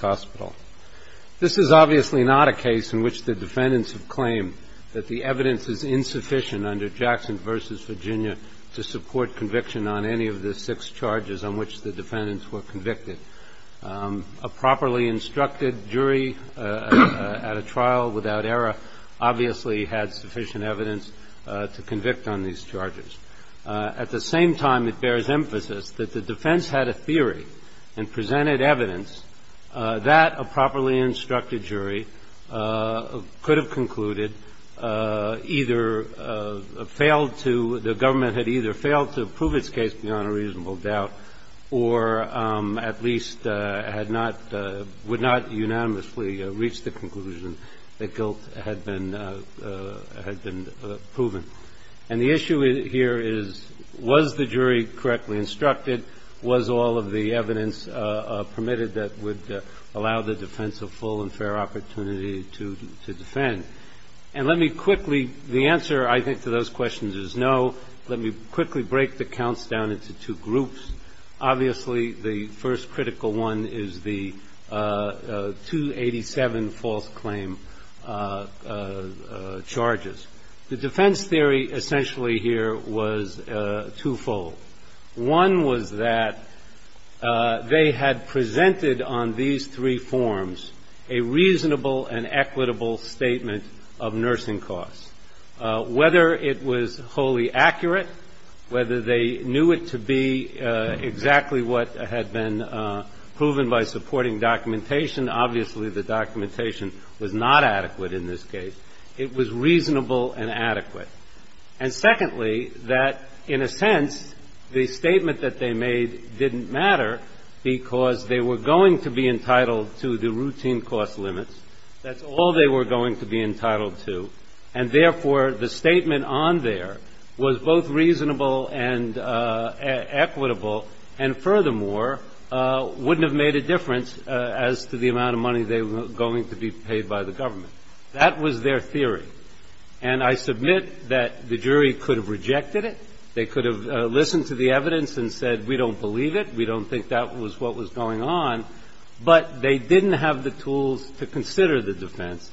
hospital. This is obviously not a case in which the defendants have claimed that the evidence is insufficient under Jackson v. Virginia to support conviction on any of the six charges on which the defendants were convicted. A properly instructed jury at a trial without sufficient evidence to convict on these charges. At the same time, it bears emphasis that the defense had a theory and presented evidence that a properly instructed jury could have concluded either failed to, the government had either failed to prove its case beyond a reasonable doubt or at least had not, would not unanimously reach the conclusion that the guilt had been, had been proven. And the issue here is, was the jury correctly instructed? Was all of the evidence permitted that would allow the defense a full and fair opportunity to defend? And let me quickly, the answer I think to those questions is no. Let me quickly break the counts down into two groups. Obviously, the first critical one is the 287 false claim charges. The defense theory essentially here was twofold. One was that they had presented on these three forms a reasonable and equitable statement of nursing costs. Whether it was wholly accurate, whether they knew it to be exactly what had been proven by supporting documentation. Obviously, the documentation was not adequate in this case. It was reasonable and adequate. And secondly, that in a sense, the statement that they made didn't matter because they were going to be entitled to the routine cost limits. That's all they were going to be entitled to. And therefore, the statement on there was both reasonable and equitable, and furthermore, wouldn't have made a difference as to the amount of money they were going to be paid by the government. That was their theory. And I submit that the jury could have rejected it. They could have listened to the evidence and said, we don't believe it. We don't think that was what was going on. But they didn't have the tools to consider the defense.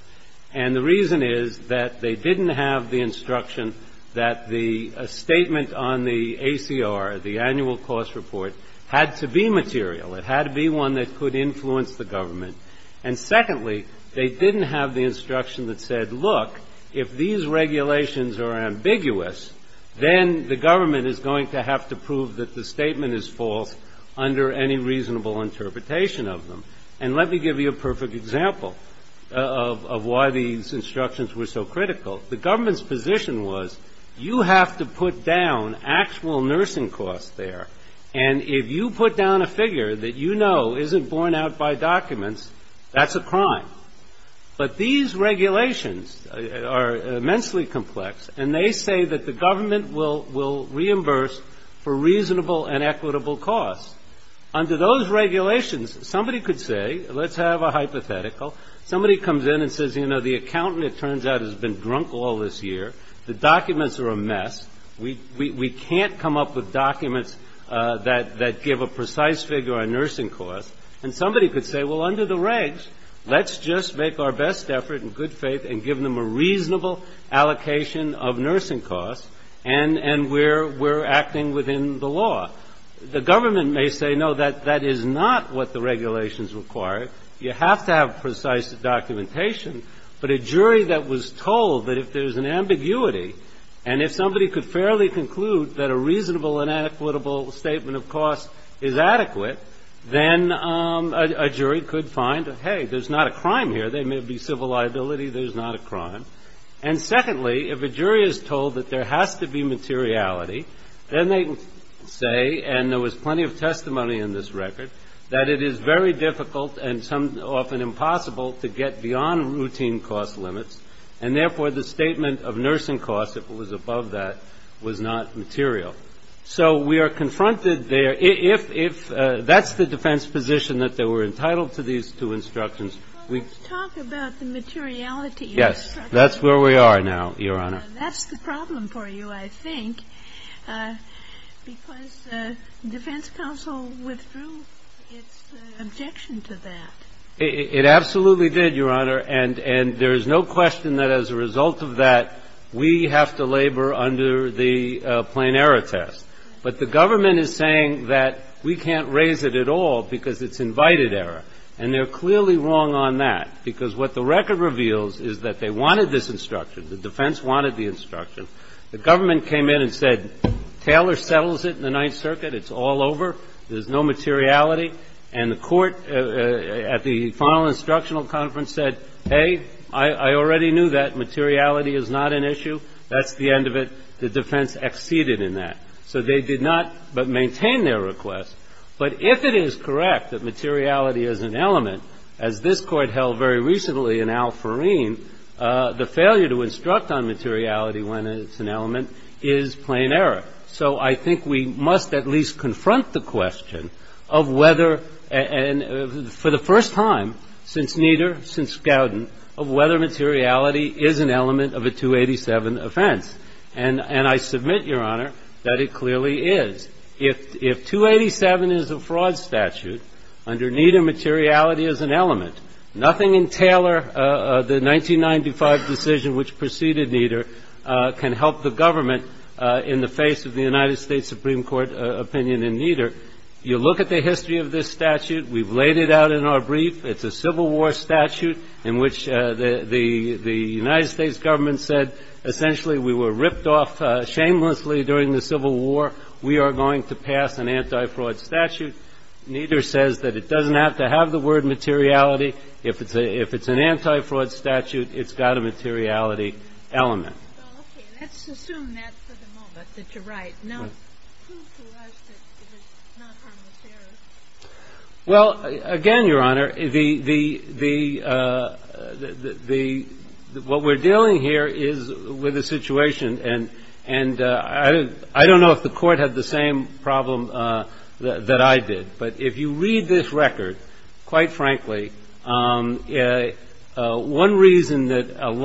And the reason is that they didn't have the instruction that the statement on the ACR, the annual cost report, had to be material. It had to be one that could influence the government. And secondly, they didn't have the instruction that said, look, if these regulations are ambiguous, then the government is going to have to prove that the statement is false under any reasonable interpretation of them. And let me give you a perfect example of why these instructions were so critical. The government's position was, you have to put down actual nursing costs there. And if you put down a figure that you know isn't borne out by documents, that's a crime. But these regulations are immensely complex, and they say that the government will reimburse for reasonable and equitable costs. Under those regulations, somebody could say, let's have a hypothetical. Somebody comes in and says, you know, the accountant, it turns out, has been drunk all this year. The documents are a mess. We can't come up with documents that give a precise figure on nursing costs. And somebody could say, well, under the regs, let's just make our best effort in good faith and give them a reasonable allocation of nursing costs, and we're acting within the law. The government may say, no, that is not what the regulations require. You have to have precise documentation. But a jury that was told that if there's an ambiguity, and if somebody could fairly conclude that a reasonable and equitable statement of cost is adequate, then a jury could find, hey, there's not a crime here. There may be civil liability. There's not a crime. And secondly, if a jury is told that there has to be materiality, then they can say, and there was plenty of testimony in this record, that it is very difficult and often impossible to get beyond routine cost limits. And therefore, the statement of nursing costs, if it was above that, was not material. So we are confronted there. If that's the defense position, that they were entitled to these two instructions, we Well, let's talk about the materiality of the instructions. Yes. That's where we are now, Your Honor. That's the problem for you, I think, because the defense counsel withdrew its objection to that. It absolutely did, Your Honor. And there's no question that as a result of that, we have to labor under the plain error test. But the government is saying that we can't raise it at all because it's invited error. And they're clearly wrong on that, because what the record reveals is that they wanted this instruction. The defense wanted the instruction. The government came in and said, Taylor settles it in the Ninth Circuit. It's all over. There's no materiality. And the court at the final instructional conference said, hey, I already knew that materiality is not an issue. That's the end of it. The defense acceded in that. So they did not but maintain their request. But if it is correct that materiality is an element, as this Court held very recently in Al Foreen, the failure to instruct on materiality when it's an element is plain error. So I think we must at least confront the question of whether — and for the first time since Nieder, since Gowden, of whether materiality is an element of a 287 offense. And I submit, Your Honor, that it clearly is. If 287 is a fraud statute, under Nieder, materiality is an element. Nothing in Taylor, the 1995 decision which preceded Nieder, can help the government in the face of the United States Supreme Court opinion in Nieder. You look at the history of this statute. We've laid it out in our brief. It's a Civil War statute in which the United States government said, essentially, we were ripped off shamelessly during the Civil War. We are going to pass an anti-fraud statute. Nieder says that it doesn't have to have the word materiality. If it's an anti-fraud statute, it's got a Well, okay. Let's assume that for the moment, that you're right. Now, prove to us that it is not harmless error. Well, again, Your Honor, the — what we're dealing here is with a situation — and I don't know if the Court had the same problem that I did. But if you read this record, quite clearly, because the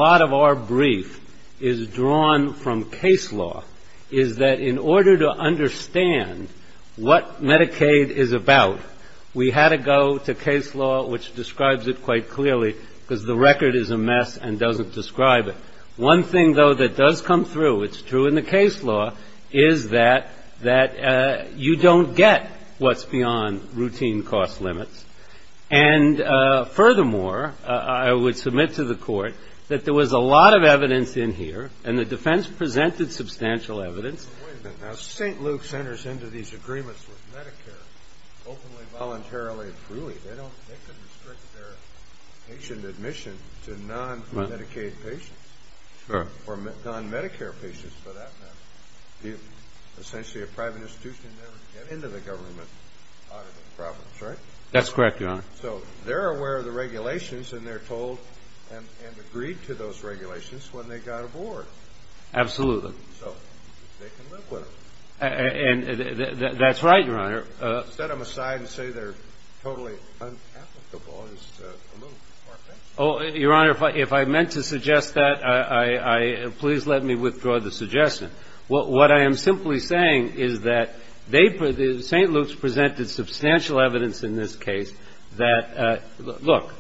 record is a mess and doesn't describe it. One thing, though, that does come through — it's true in the case law — is that you don't get what's beyond the law. But there's a lot of evidence in here, and the defense presented substantial evidence. But wait a minute. Now, St. Luke's enters into these agreements with Medicare openly, voluntarily, and freely. They don't — they couldn't restrict their patient admission to non-Medicaid patients. Sure. Or non-Medicare patients, for that matter. Essentially, a private institution never get into the government audit problems, right? That's correct, Your Honor. and they're told, and they're told, and they're told, and they're told, and they're told, And that's right, Your Honor. Set them aside and say they're totally unapplicable, and it's a little far-fetched. Your Honor, if I meant to suggest that, please let me withdraw the suggestion. What I am simply saying is that they — St. Luke's presented substantial evidence in this case that — look,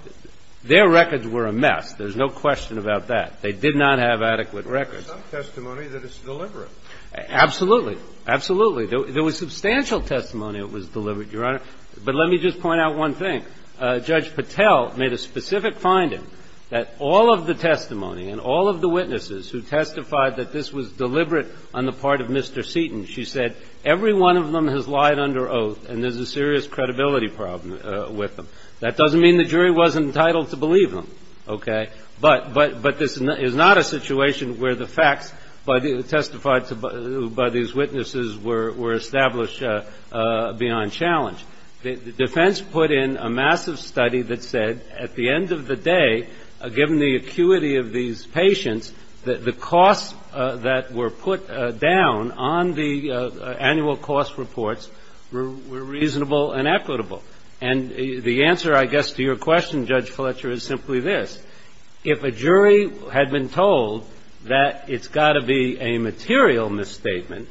their records were a mess. There's no question about that. They didn't have adequate records. But there's some testimony that it's deliberate. Absolutely. Absolutely. There was substantial testimony it was deliberate, Your Honor. But let me just point out one thing. Judge Patel made a specific finding that all of the testimony and all of the witnesses who testified that this was deliberate on the part of Mr. Seaton, she said, every one of them has lied under oath, and there's a serious credibility problem with them. That doesn't mean the jury wasn't entitled to believe them, okay? But this is not a situation where the facts testified by these witnesses were established beyond challenge. The defense put in a massive study that said, at the end of the day, given the acuity of these patients, the costs that were put down on the annual cost reports were reasonable and equitable. And the answer, I guess, to your question, Judge Fletcher, is simply this. If a jury had been told that it's got to be a material misstatement,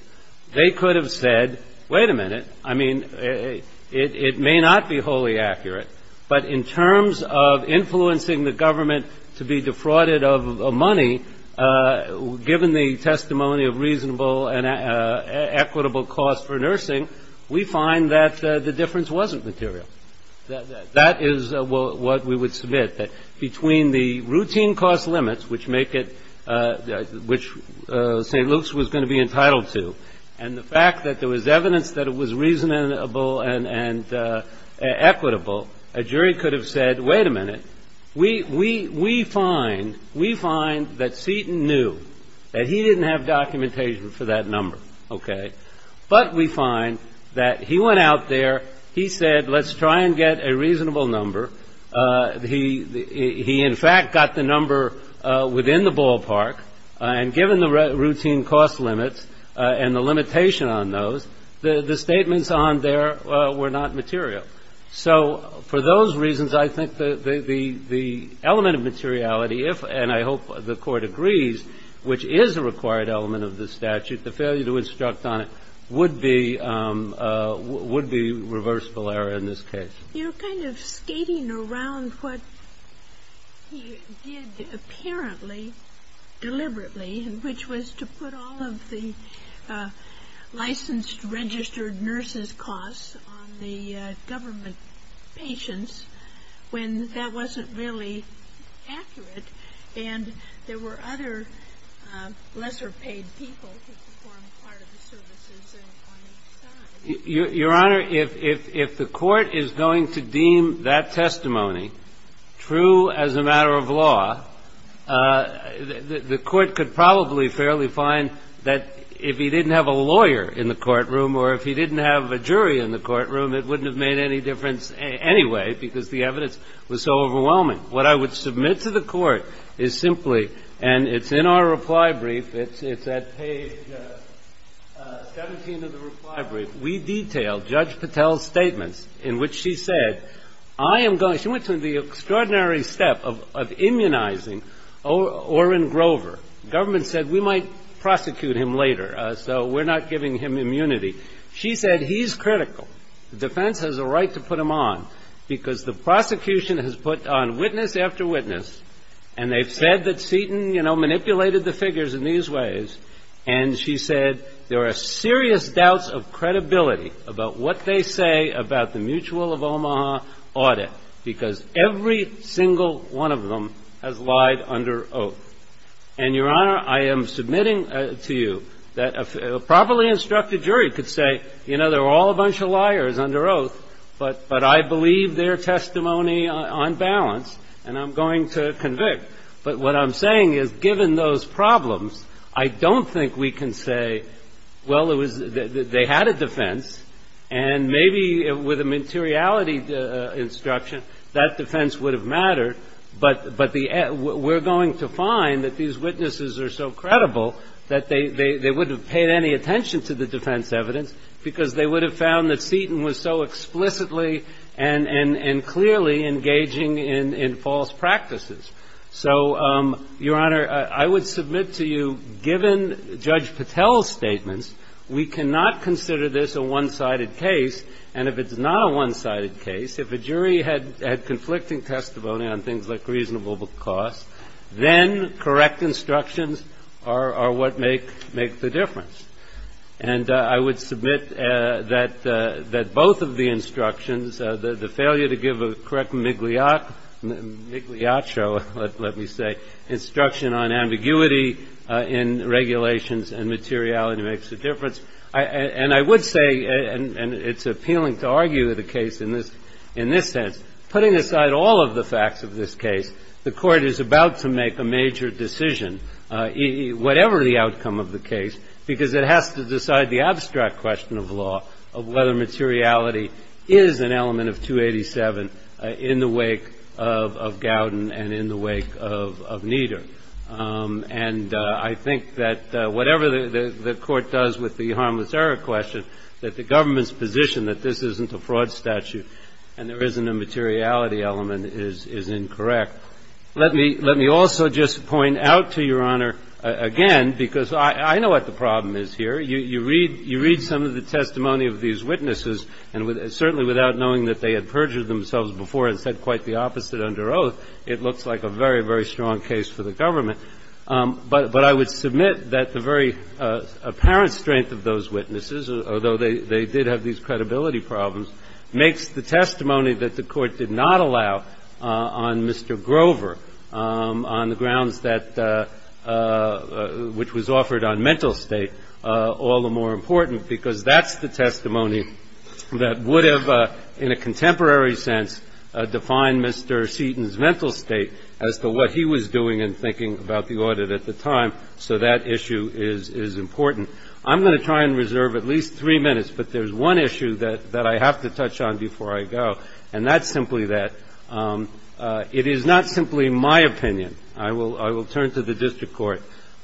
they could have said, wait a minute, I mean, it may not be wholly accurate, but in terms of influencing the government to be defrauded of money, given the testimony of reasonable and equitable cost for nursing, we find that the difference wasn't material. That is what we would submit, that between the routine cost limits, which make it – which St. Luke's was going to be entitled to, and the fact that there was evidence that it was reasonable and equitable, a jury could have said, wait a minute, we find – we find that Seaton knew that he didn't have documentation for that number, okay? But we find that he went out there, he said, let's try and get a reasonable number. He in fact got the number within the ballpark, and given the routine cost limits and the limitation on those, the statements on there were not material. So for those reasons, I think the element of materiality, if – and I hope the Court agrees, which is a required element of the statute, the failure to instruct on it would be – would be reversible error in this case. You're kind of skating around what he did apparently, deliberately, which was to put all of the licensed registered nurses' costs on the government patients when that wasn't really accurate, and there were other lesser-paid people who performed part of the services on each side. Your Honor, if the Court is going to deem that testimony true as a matter of law, the I would submit to the Court is simply – and it's in our reply brief, it's at page 17 of the reply brief – we detailed Judge Patel's statements in which she said, I am going – she went to the extraordinary step of immunizing Orrin Grover. The government said, we might prosecute Orrin Grover. So we're not giving him immunity. She said he's critical. The defense has a right to put him on because the prosecution has put on witness after witness, and they've said that Seton, you know, manipulated the figures in these ways. And she said there are serious doubts of credibility about what they say about the mutual of Omaha audit because every single one of them has lied under oath. And, Your Honor, I am submitting to you that a properly instructed jury could say, you know, there were all a bunch of liars under oath, but I believe their testimony on balance, and I'm going to convict. But what I'm saying is, given those problems, I don't think we can say, well, it was – they had a defense, and maybe with a materiality instruction, that defense would have mattered. But the – we're going to find that these witnesses are so credible that they wouldn't have paid any attention to the defense evidence because they would have found that Seton was so explicitly and clearly engaging in false practices. So, Your Honor, I would submit to you, given Judge Patel's statements, we cannot consider this a one-sided case, and if it's not a one-sided case, if a jury had conflicting testimony on things like reasonable cost, then correct instructions are what make the difference. And I would submit that both of the instructions, the failure to give a correct migliaccio, let me say, instruction on ambiguity in regulations and materiality makes a difference. And I would say, and it's appealing to argue the case in this sense, putting aside all of the facts of this case, the Court is about to make a major decision, whatever the outcome of the case, because it has to decide the abstract question of law, of whether materiality is an element of 287 in the wake of Gowden and in the wake of Nieder. And I think that whatever the Court does with the harmless error question, that the government's position that this isn't a fraud statute and there isn't a materiality element is incorrect. Let me also just point out to Your Honor, again, because I know what the problem is here. You read some of the testimony of these witnesses, and certainly without knowing that they had perjured themselves before and said quite the opposite under oath, it looks like a very, very strong case for the government. But I would submit that the very apparent strength of those witnesses, although they did have these credibility problems, makes the testimony that the Court did not allow on Mr. Grover on the grounds that which was offered on mental state all the more important, because that's the testimony that would have, in a contemporary sense, defined Mr. Seaton's mental state as to what he was doing and thinking about the audit at the time. So that issue is important. I'm going to try and reserve at least three minutes, but there's one issue that I have to touch on before I go, and that's simply that it is not simply my opinion. I will turn to the district court.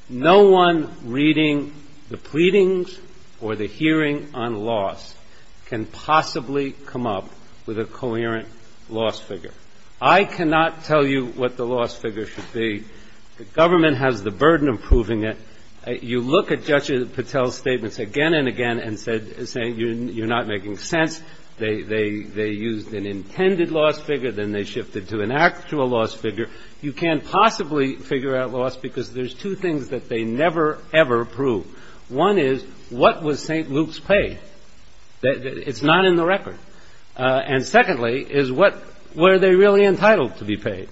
No one reading the pleadings or the hearing on loss can possibly come up with a coherent loss figure. I cannot tell you what the loss figure should be. The government has the burden of proving it. You look at Judge Patel's statements again and again and say you're not making sense. They used an intended loss figure, then they shifted to an actual loss figure. You can't possibly figure out loss because there's two things that they never, ever prove. One is, what was St. Luke's pay? It's not in the record. And secondly is, were they really entitled to be paid?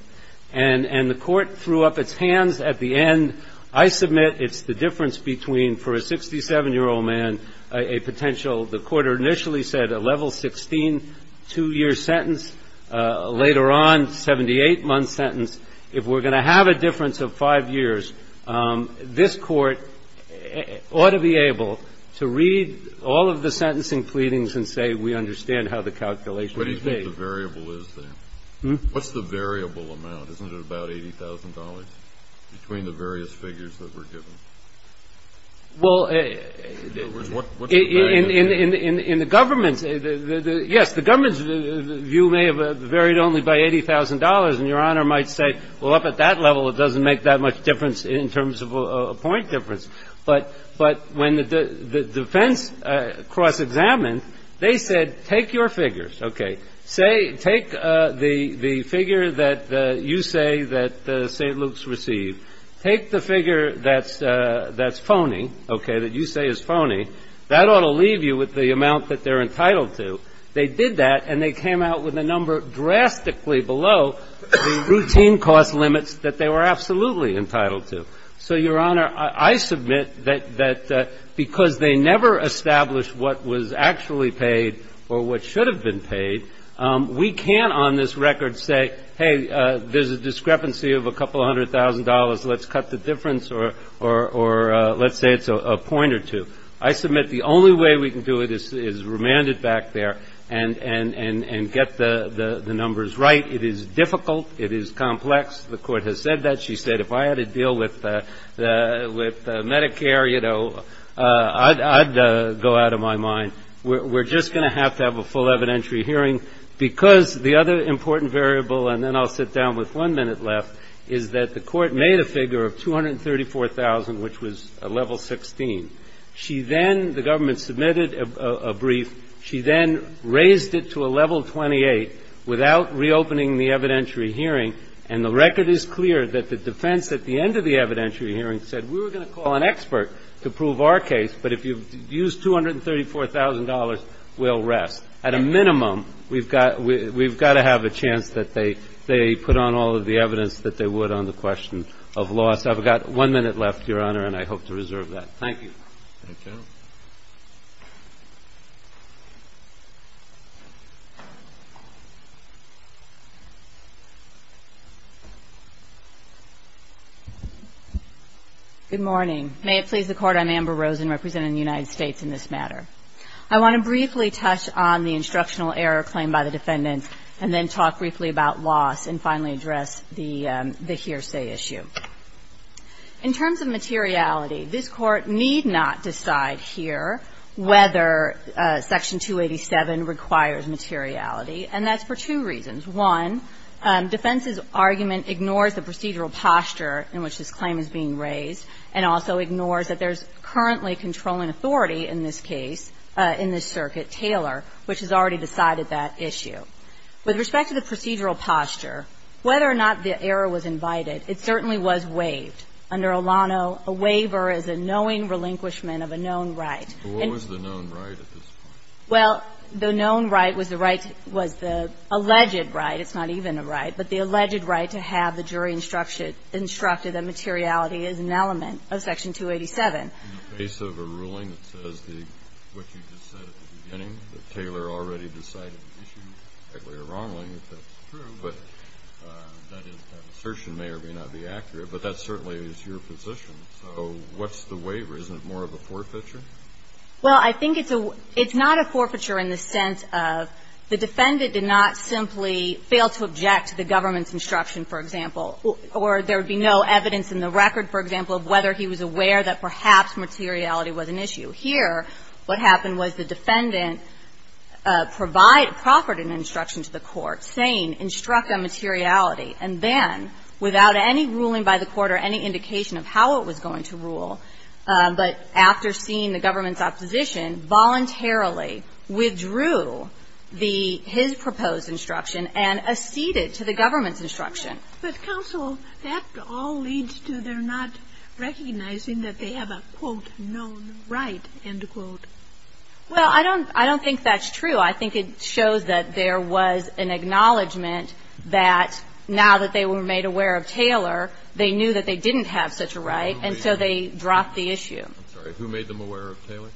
And the Court threw up its hands at the end. I submit it's the difference between, for a 67-year-old man, a potential, the Court initially said a level 16 two-year sentence, later on, 78-month sentence. If we're going to have a difference of five years, this Court ought to be able to read all of the sentencing pleadings and say we understand how the calculation is made. What do you think the variable is there? What's the variable amount? Isn't it about $80,000 between the various figures that were given? Well, in the government's, yes, the government's view may have varied only by $80,000. And Your Honor might say, well, up at that level, it doesn't make that much difference in terms of a point difference. But when the defense cross-examined, they said take your figures. Okay. Take the figure that you say that St. Luke's received. Take the figure that's phony, okay, that you say is phony. That ought to leave you with the amount that they're entitled to. They did that, and they came out with a number drastically below the routine cost limits that they were absolutely entitled to. So, Your Honor, I submit that because they never established what was actually paid or what should have been paid, we can't on this record say, hey, there's a discrepancy of a couple hundred thousand dollars. Let's cut the difference or let's say it's a point or two. I submit the only way we can do it is remand it back there and get the numbers right. It is difficult. It is complex. The Court has said that. She said if I had to deal with Medicare, you know, I'd go out of my mind. We're just going to have to have a full evidentiary hearing because the other important variable, and then I'll sit down with one minute left, is that the Court made a figure of 234,000, which was a level 16. She then, the government submitted a brief. She then raised it to a level 28 without reopening the evidentiary hearing. And the record is clear that the defense at the end of the evidentiary hearing said we were going to call an expert to prove our case. But if you use $234,000, we'll rest. At a minimum, we've got to have a chance that they put on all of the evidence that they would on the question of loss. I've got one minute left, Your Honor, and I hope to reserve that. Thank you. Thank you. Good morning. May it please the Court. I'm Amber Rosen representing the United States in this matter. I want to briefly touch on the instructional error claimed by the defendants and then talk briefly about loss and finally address the hearsay issue. In terms of materiality, this Court need not decide here whether Section 287 requires materiality, and that's for two reasons. One, defense's argument ignores the procedural posture in which this claim is being raised and also ignores that there's currently controlling authority in this case, in this circuit, Taylor, which has already decided that issue. With respect to the procedural posture, whether or not the error was invited, it certainly was waived. Under Olano, a waiver is a knowing relinquishment of a known right. But what was the known right at this point? Well, the known right was the right, was the alleged right. It's not even a right. But the alleged right to have the jury instructed that materiality is an element of Section 287. In the face of a ruling that says what you just said at the beginning, that Taylor already decided the issue, rightly or wrongly, if that's true, but that assertion may or may not be accurate, but that certainly is your position. So what's the waiver? Isn't it more of a forfeiture? Well, I think it's a – it's not a forfeiture in the sense of the defendant did not simply fail to object to the government's instruction, for example, or there would be no evidence in the record, for example, of whether he was aware that perhaps materiality was an issue. Here, what happened was the defendant provided – proffered an instruction to the court saying, instruct on materiality. And then, without any ruling by the court or any indication of how it was going to rule, but after seeing the government's opposition, voluntarily withdrew the – his proposed instruction and acceded to the government's instruction. But, counsel, that all leads to their not recognizing that they have a, quote, known right, end quote. Well, I don't – I don't think that's true. I think it shows that there was an acknowledgment that now that they were made aware of Taylor, they knew that they didn't have such a right, and so they dropped the issue. I'm sorry. Who made them aware of Taylor?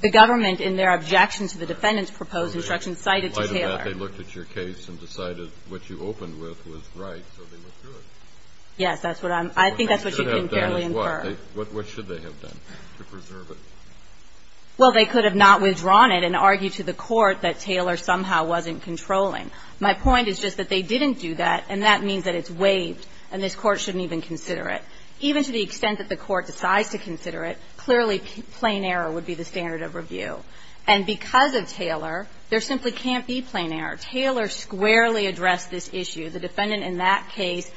The government, in their objection to the defendant's proposed instruction, cited Taylor. Okay. In light of that, they looked at your case and decided what you opened with was right, so they withdrew it. Yes. That's what I'm – I think that's what you can fairly infer. What they should have done is what? What should they have done to preserve it? Well, they could have not withdrawn it and argued to the court that Taylor somehow wasn't controlling. My point is just that they didn't do that, and that means that it's waived and this Court shouldn't even consider it. Even to the extent that the Court decides to consider it, clearly, plain error would be the standard of review. And because of Taylor, there simply can't be plain error. Taylor squarely addressed this issue. The defendant in that case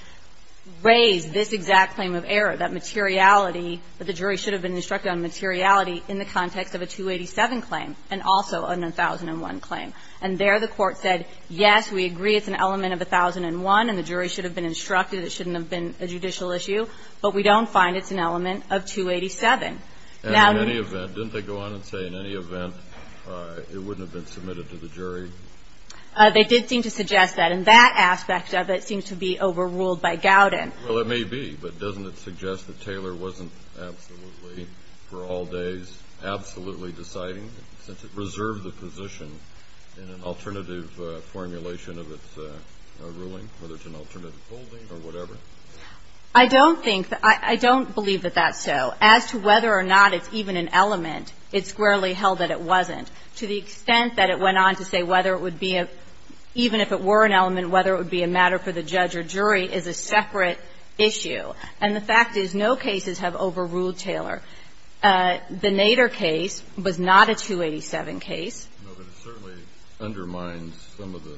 raised this exact claim of error, that materiality that the jury should have been instructed on materiality in the context of a 287 claim and also a 1001 claim. And there the Court said, yes, we agree it's an element of 1001 and the jury should have been instructed, it shouldn't have been a judicial issue, but we don't find it's an element of 287. And in any event, didn't they go on and say, in any event, it wouldn't have been submitted to the jury? They did seem to suggest that. And that aspect of it seems to be overruled by Gowden. Well, it may be, but doesn't it suggest that Taylor wasn't absolutely, for all days, absolutely deciding, since it reserved the position in an alternative formulation of its ruling, whether it's an alternative holding or whatever? I don't think that – I don't believe that that's so. As to whether or not it's even an element, it squarely held that it wasn't. To the extent that it went on to say whether it would be a – even if it were an element, whether it would be a matter for the judge or jury is a separate issue. And the fact is, no cases have overruled Taylor. The Nader case was not a 287 case. No, but it certainly undermines some of the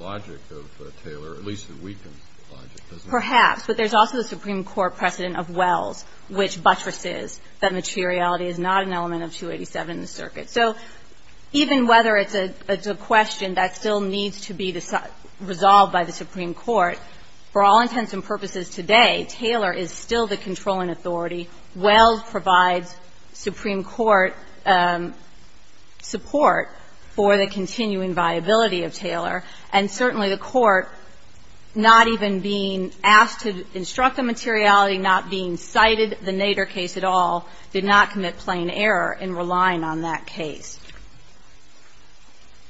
logic of Taylor, or at least it weakens the logic, doesn't it? Perhaps. But there's also the Supreme Court precedent of Wells, which buttresses that materiality is not an element of 287 in the circuit. So even whether it's a question that still needs to be resolved by the Supreme Court, for all intents and purposes today, Taylor is still the controlling authority. Wells provides Supreme Court support for the continuing viability of Taylor. And certainly the Court, not even being asked to instruct a materiality, not being cited the Nader case at all, did not commit plain error in relying on that case.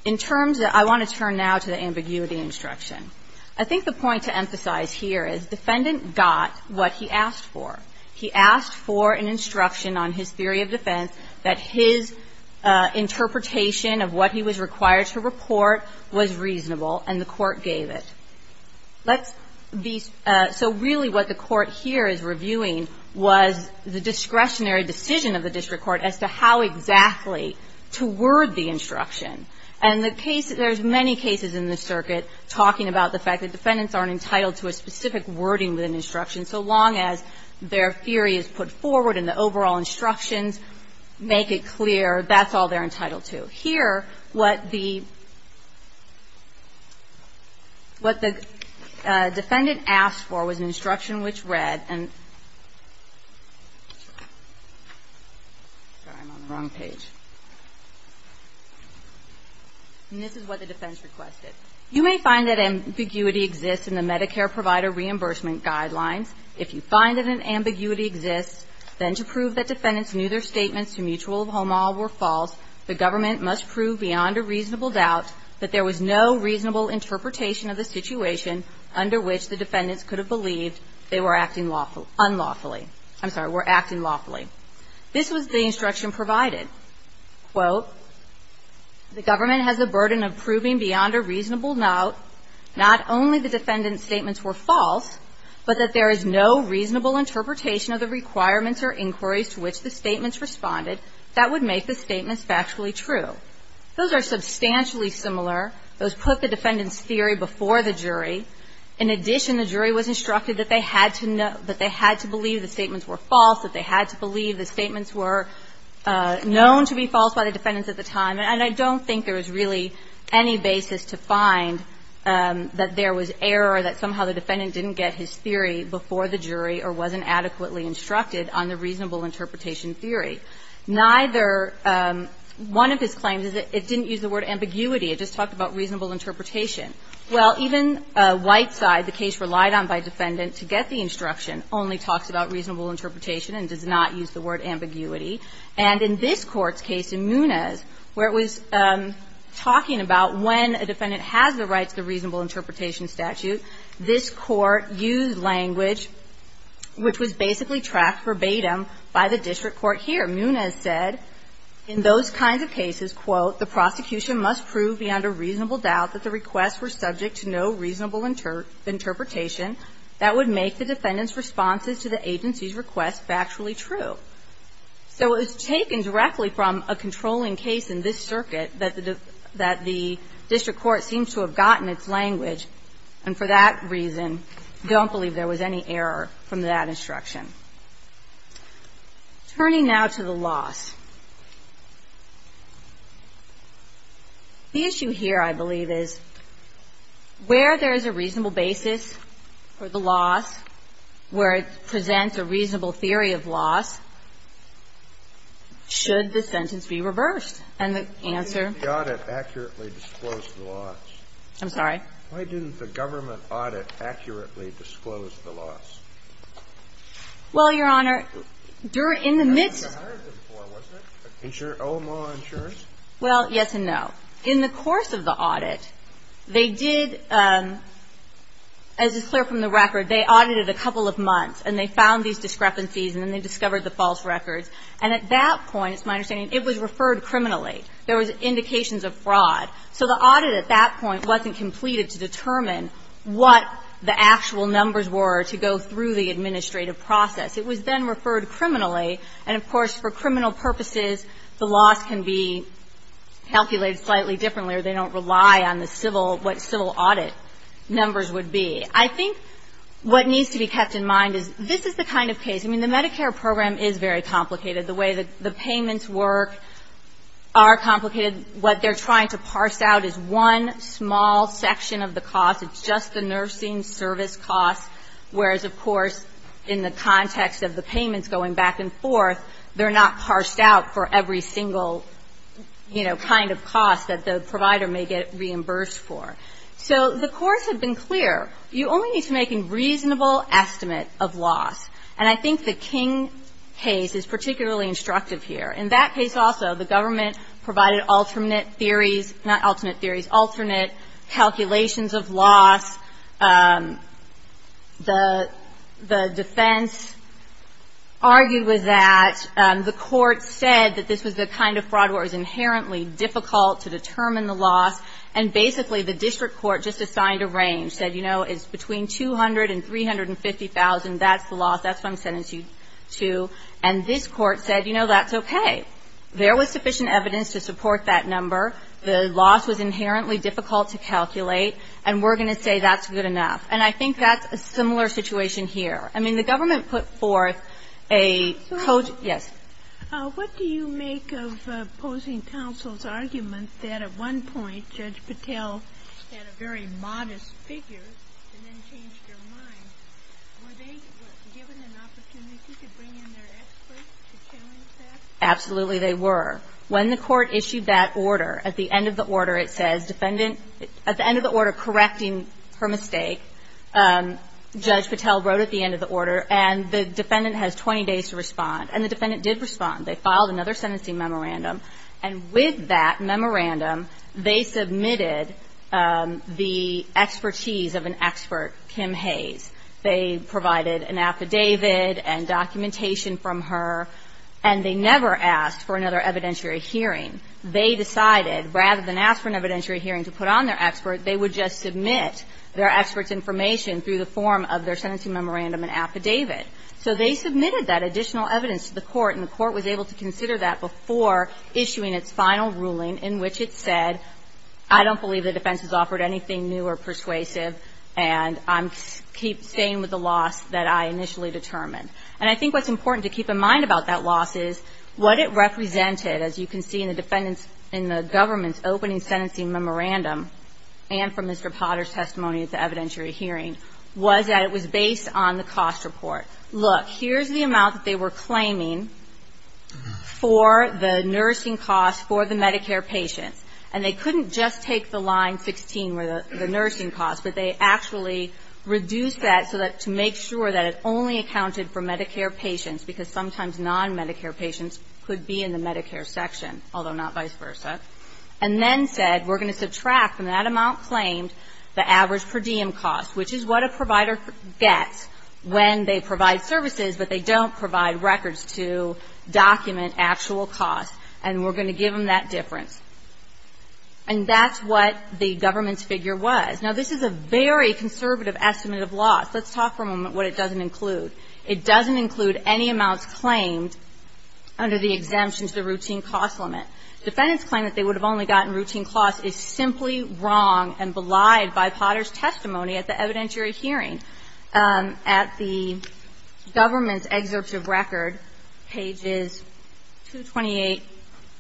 In terms of – I want to turn now to the ambiguity instruction. I think the point to emphasize here is defendant got what he asked for. He asked for an instruction on his theory of defense that his interpretation of what he was required to report was reasonable, and the Court gave it. Let's be – so really what the Court here is reviewing was the discretionary decision of the district court as to how exactly to word the instruction. And the case – there's many cases in the circuit talking about the fact that their theory is put forward and the overall instructions make it clear that's all they're entitled to. Here, what the – what the defendant asked for was an instruction which read – sorry, I'm on the wrong page. And this is what the defense requested. You may find that ambiguity exists in the Medicare provider reimbursement guidelines. If you find that an ambiguity exists, then to prove that defendants knew their statements to mutual of home law were false, the government must prove beyond a reasonable doubt that there was no reasonable interpretation of the situation under which the defendants could have believed they were acting unlawfully – I'm sorry, were acting lawfully. This was the instruction provided. Quote, the government has a burden of proving beyond a reasonable doubt not only the defendant's statements were false, but that there is no reasonable interpretation of the requirements or inquiries to which the statements responded that would make the statements factually true. Those are substantially similar. Those put the defendant's theory before the jury. In addition, the jury was instructed that they had to know – that they had to believe the statements were false, that they had to believe the statements were known to be false by the defendants at the time. And I don't think there was really any basis to find that there was error or that somehow the defendant didn't get his theory before the jury or wasn't adequately instructed on the reasonable interpretation theory. Neither – one of his claims is that it didn't use the word ambiguity. It just talked about reasonable interpretation. Well, even Whiteside, the case relied on by defendant to get the instruction, only talks about reasonable interpretation and does not use the word ambiguity. And in this Court's case in Munez, where it was talking about when a defendant has the right to the reasonable interpretation statute, this Court used language which was basically tracked verbatim by the district court here. Munez said, in those kinds of cases, quote, the prosecution must prove beyond a reasonable doubt that the requests were subject to no reasonable interpretation that would make the defendant's responses to the agency's requests factually true. So it was taken directly from a controlling case in this circuit that the district court seems to have gotten its language. And for that reason, I don't believe there was any error from that instruction. Turning now to the loss. The issue here, I believe, is where there is a reasonable basis for the loss, where it presents a reasonable theory of loss should the sentence be reversed. And the answer. Kennedy. The audit accurately disclosed the loss. I'm sorry? Why didn't the government audit accurately disclose the loss? Well, Your Honor, during the midst. That's what you hired them for, wasn't it? OMA insurance? Well, yes and no. In the course of the audit, they did, as is clear from the record, they audited a couple of months and they found these discrepancies and then they discovered the false records. And at that point, it's my understanding, it was referred criminally. There was indications of fraud. So the audit at that point wasn't completed to determine what the actual numbers were to go through the administrative process. It was then referred criminally. And, of course, for criminal purposes, the loss can be calculated slightly differently or they don't rely on the civil, what civil audit numbers would be. I think what needs to be kept in mind is this is the kind of case, I mean, the Medicare program is very complicated. The way that the payments work are complicated. What they're trying to parse out is one small section of the cost. It's just the nursing service cost, whereas, of course, in the context of the payments going back and forth, they're not parsed out for every single, you know, kind of cost that the provider may get reimbursed for. So the courts have been clear. You only need to make a reasonable estimate of loss. And I think the King case is particularly instructive here. In that case also, the government provided alternate theories, not alternate theories, alternate calculations of loss. The defense argued with that. The court said that this was the kind of fraud where it was inherently difficult to determine the loss. And basically, the district court just assigned a range, said, you know, it's between 200 and 350,000. That's the loss. That's what I'm sending you to. And this court said, you know, that's okay. There was sufficient evidence to support that number. The loss was inherently difficult to calculate. And we're going to say that's good enough. And I think that's a similar situation here. I mean, the government put forth a code. Yes. What do you make of opposing counsel's argument that at one point Judge Patel had a very modest figure and then changed their mind? Were they given an opportunity to bring in their experts to challenge that? Absolutely they were. When the court issued that order, at the end of the order it says, defendant at the end of the order correcting her mistake, Judge Patel wrote at the end of the order, and the defendant has 20 days to respond. And the defendant did respond. They filed another sentencing memorandum. And with that memorandum, they submitted the expertise of an expert, Kim Hayes. They provided an affidavit and documentation from her. And they never asked for another evidentiary hearing. They decided rather than ask for an evidentiary hearing to put on their expert, they would just submit their expert's information through the form of their sentencing memorandum and affidavit. So they submitted that additional evidence to the court, and the court was able to consider that before issuing its final ruling in which it said, I don't believe the defense has offered anything new or persuasive, and I'm staying with the loss that I initially determined. And I think what's important to keep in mind about that loss is what it represented, as you can see in the defendant's, in the government's opening sentencing memorandum and from Mr. Potter's testimony at the evidentiary hearing, was that it was based on the cost report. Look, here's the amount that they were claiming for the nursing costs for the Medicare patients. And they couldn't just take the line 16 where the nursing costs, but they actually reduced that so that to make sure that it only accounted for Medicare patients, because sometimes non-Medicare patients could be in the Medicare section, although not vice versa, and then said, we're going to subtract from that amount claimed the average per diem cost, which is what a provider gets when they provide services, but they don't provide records to document actual costs, and we're going to give them that difference. And that's what the government's figure was. Now, this is a very conservative estimate of loss. Let's talk for a moment what it doesn't include. It doesn't include any amounts claimed under the exemption to the routine cost limit. Defendants claim that they would have only gotten routine costs is simply wrong and belied by Potter's testimony at the evidentiary hearing. At the government's excerpt of record, pages 228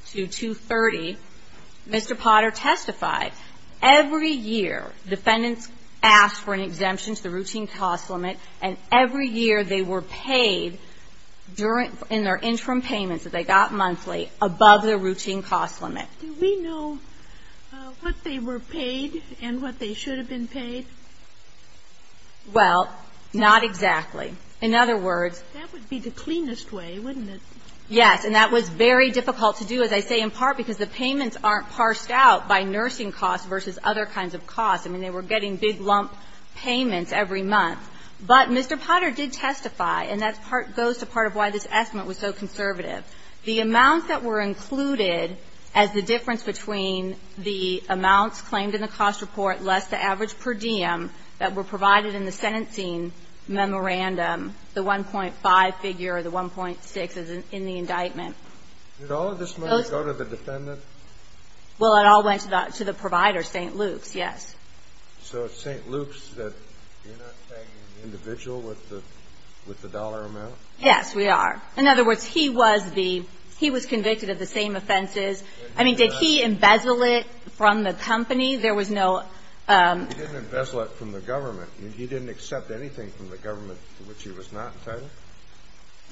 to 230, Mr. Potter testified every year defendants asked for an exemption to the routine cost limit, and every year they were paid in their interim payments that they got monthly above their routine cost limit. Do we know what they were paid and what they should have been paid? Well, not exactly. In other words ---- That would be the cleanest way, wouldn't it? Yes. And that was very difficult to do, as I say, in part because the payments aren't parsed out by nursing costs versus other kinds of costs. I mean, they were getting big lump payments every month. But Mr. Potter did testify, and that goes to part of why this estimate was so conservative. The amounts that were included as the difference between the amounts claimed in the cost report less the average per diem that were provided in the sentencing memorandum, the 1.5 figure, the 1.6 is in the indictment. Did all of this money go to the defendant? Well, it all went to the provider, St. Luke's, yes. So it's St. Luke's that you're not tagging the individual with the dollar amount? Yes, we are. In other words, he was the ---- he was convicted of the same offenses. I mean, did he embezzle it from the company? There was no ---- He didn't embezzle it from the government. He didn't accept anything from the government to which he was not entitled?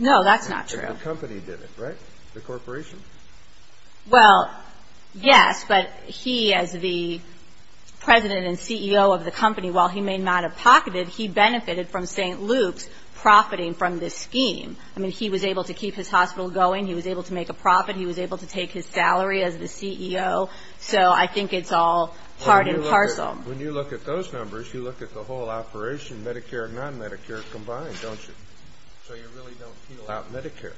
No, that's not true. The company did it, right? The corporation? Well, yes, but he, as the president and CEO of the company, while he may not have pocketed it, he benefited from St. Luke's profiting from this scheme. I mean, he was able to keep his hospital going. He was able to make a profit. He was able to take his salary as the CEO. So I think it's all part and parcel. When you look at those numbers, you look at the whole operation, Medicare and non-Medicare combined, don't you? So you really don't peel out Medicare?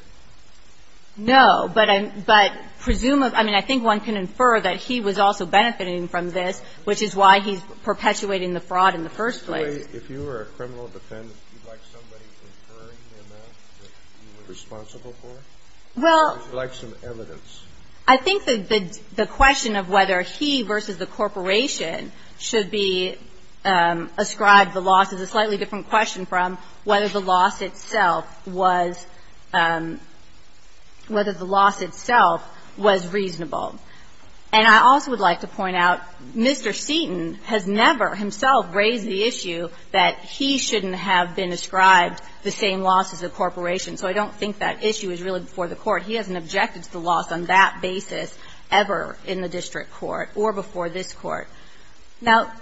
No, but I'm ---- but presumably ---- I mean, I think one can infer that he was also benefiting from this, which is why he's perpetuating the fraud in the first place. If you were a criminal defendant, would you like somebody inferring the amount that you were responsible for? Well ---- Or would you like some evidence? I think that the question of whether he versus the corporation should be ascribed the loss is a slightly different question from whether the loss itself was ---- whether the loss itself was reasonable. And I also would like to point out, Mr. Seaton has never himself raised the issue that he shouldn't have been ascribed the same loss as the corporation. So I don't think that issue is really before the court. He hasn't objected to the loss on that basis ever in the district court or before this court. Now,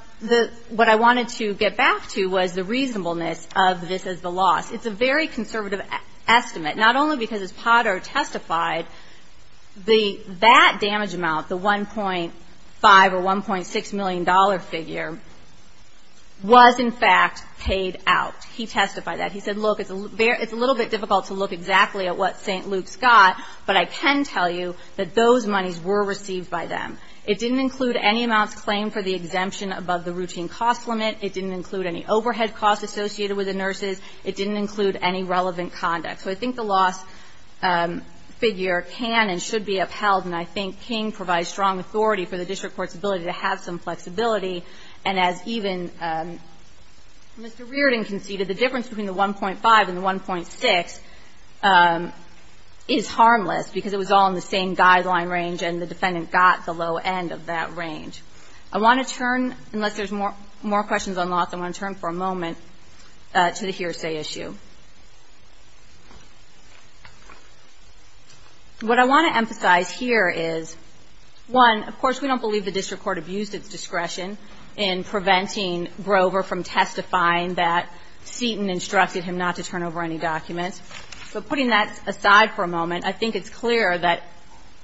what I wanted to get back to was the reasonableness of this as the loss. It's a very conservative estimate, not only because as Potter testified, the ---- that damage amount, the $1.5 or $1.6 million figure, was in fact paid out. He testified that. He said, look, it's a little bit difficult to look exactly at what St. Luke's got, but I can tell you that those monies were received by them. It didn't include any amounts claimed for the exemption above the routine cost limit. It didn't include any overhead costs associated with the nurses. It didn't include any relevant conduct. So I think the loss figure can and should be upheld, and I think King provides strong authority for the district court's ability to have some flexibility. And as even Mr. Reardon conceded, the difference between the $1.5 and the $1.6 is harmless, because it was all in the same guideline range and the defendant got the low end of that range. I want to turn, unless there's more questions on loss, I want to turn for a moment to the hearsay issue. What I want to emphasize here is, one, of course, we don't believe the district court abused its discretion in preventing Grover from testifying that Seaton instructed him not to turn over any documents. But putting that aside for a moment, I think it's clear that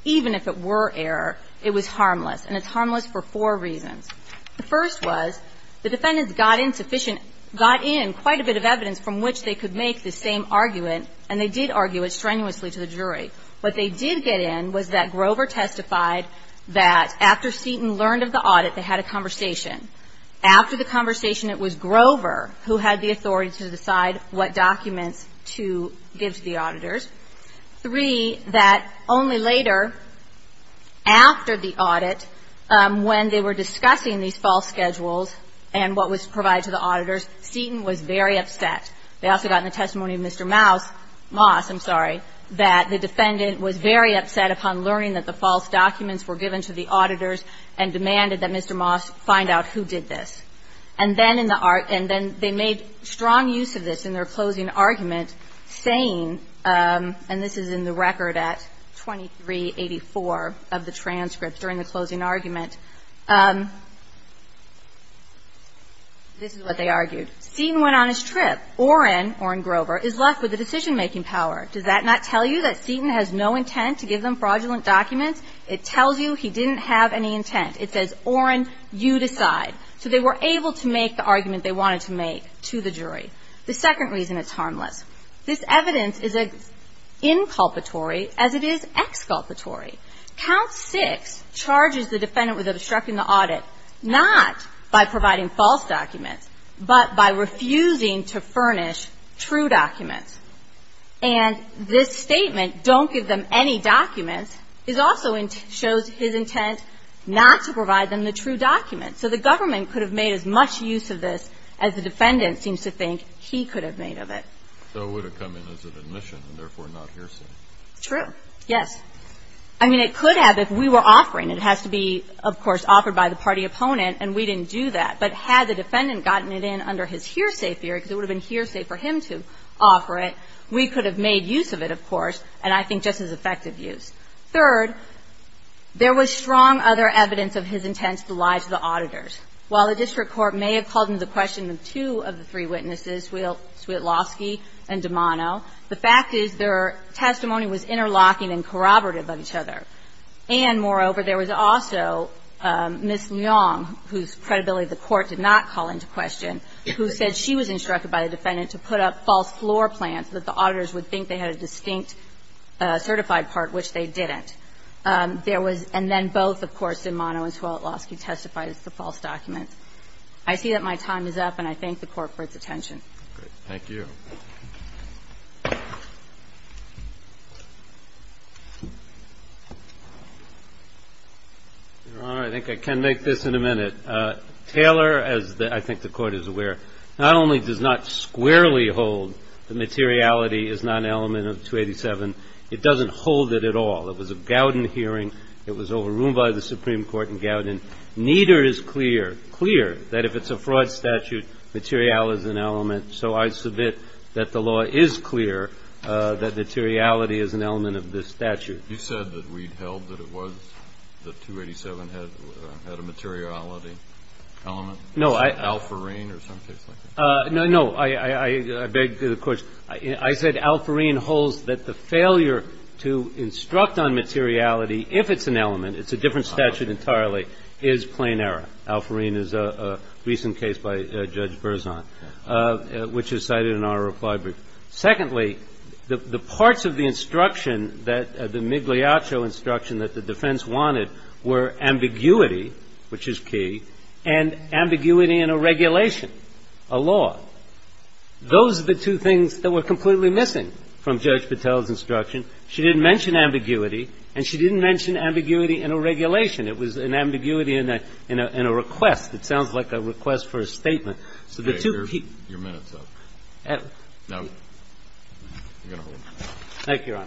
even if it were error, it was harmless, and it's harmless for four reasons. The first was the defendants got insufficient, got in quite a bit of evidence from which they could make the same argument, and they did argue it strenuously to the jury. What they did get in was that Grover testified that after Seaton learned of the audit, they had a conversation. After the conversation, it was Grover who had the authority to decide what documents to give to the auditors. Three, that only later, after the audit, when they were discussing these false schedules and what was provided to the auditors, Seaton was very upset. They also got in the testimony of Mr. Maus, Moss, I'm sorry, that the defendant was very upset upon learning that the false documents were given to the auditors and demanded that Mr. Moss find out who did this. And then they made strong use of this in their closing argument, saying, and this is in the record at 2384 of the transcript during the closing argument, this is what they argued. Seaton went on his trip. Orrin, Orrin Grover, is left with the decision-making power. Does that not tell you that Seaton has no intent to give them fraudulent documents? It tells you he didn't have any intent. It says, Orrin, you decide. So they were able to make the argument they wanted to make to the jury. The second reason it's harmless. This evidence is inculpatory as it is exculpatory. Count 6 charges the defendant with obstructing the audit not by providing false documents but by refusing to furnish true documents. And this statement, don't give them any documents, also shows his intent not to provide them the true documents. So the government could have made as much use of this as the defendant seems to think he could have made of it. So it would have come in as an admission and therefore not hearsay. True. Yes. I mean, it could have if we were offering. It has to be, of course, offered by the party opponent, and we didn't do that. But had the defendant gotten it in under his hearsay theory, because it would have been hearsay for him to offer it, we could have made use of it, of course, and I think just as effective use. Third, there was strong other evidence of his intent to lie to the auditors. While the district court may have called into question two of the three witnesses, Swietlowski and DiMano, the fact is their testimony was interlocking and corroborative of each other. And, moreover, there was also Ms. Leong, whose credibility the court did not call into question, who said she was instructed by the defendant to put up false floor plans so that the auditors would think they had a distinct certified part, which they didn't. And then both, of course, DiMano and Swietlowski testified as the false documents. I see that my time is up, and I thank the Court for its attention. Thank you. Your Honor, I think I can make this in a minute. Taylor, as I think the Court is aware, not only does not squarely hold that materiality is not an element of 287, it doesn't hold it at all. It was a Gowden hearing. It was overruled by the Supreme Court in Gowden. Neither is clear that if it's a fraud statute, materiality is an element. So I submit that the law is clear that materiality is an element of this statute. You said that we held that it was, that 287 had a materiality element? No, I — Is it Alfereen or something like that? No, no. I beg the question. I said Alfereen holds that the failure to instruct on materiality, if it's an element, it's a different statute entirely, is plain error. Alfereen is a recent case by Judge Berzon, which is cited in our reply brief. And secondly, the parts of the instruction that the Migliaccio instruction that the defense wanted were ambiguity, which is key, and ambiguity in a regulation, a law. Those are the two things that were completely missing from Judge Patel's instruction. She didn't mention ambiguity, and she didn't mention ambiguity in a regulation. It was an ambiguity in a request. It sounds like a request for a statement. Your minute's up. No. You're going to hold. Thank you, Your Honor. Thank you.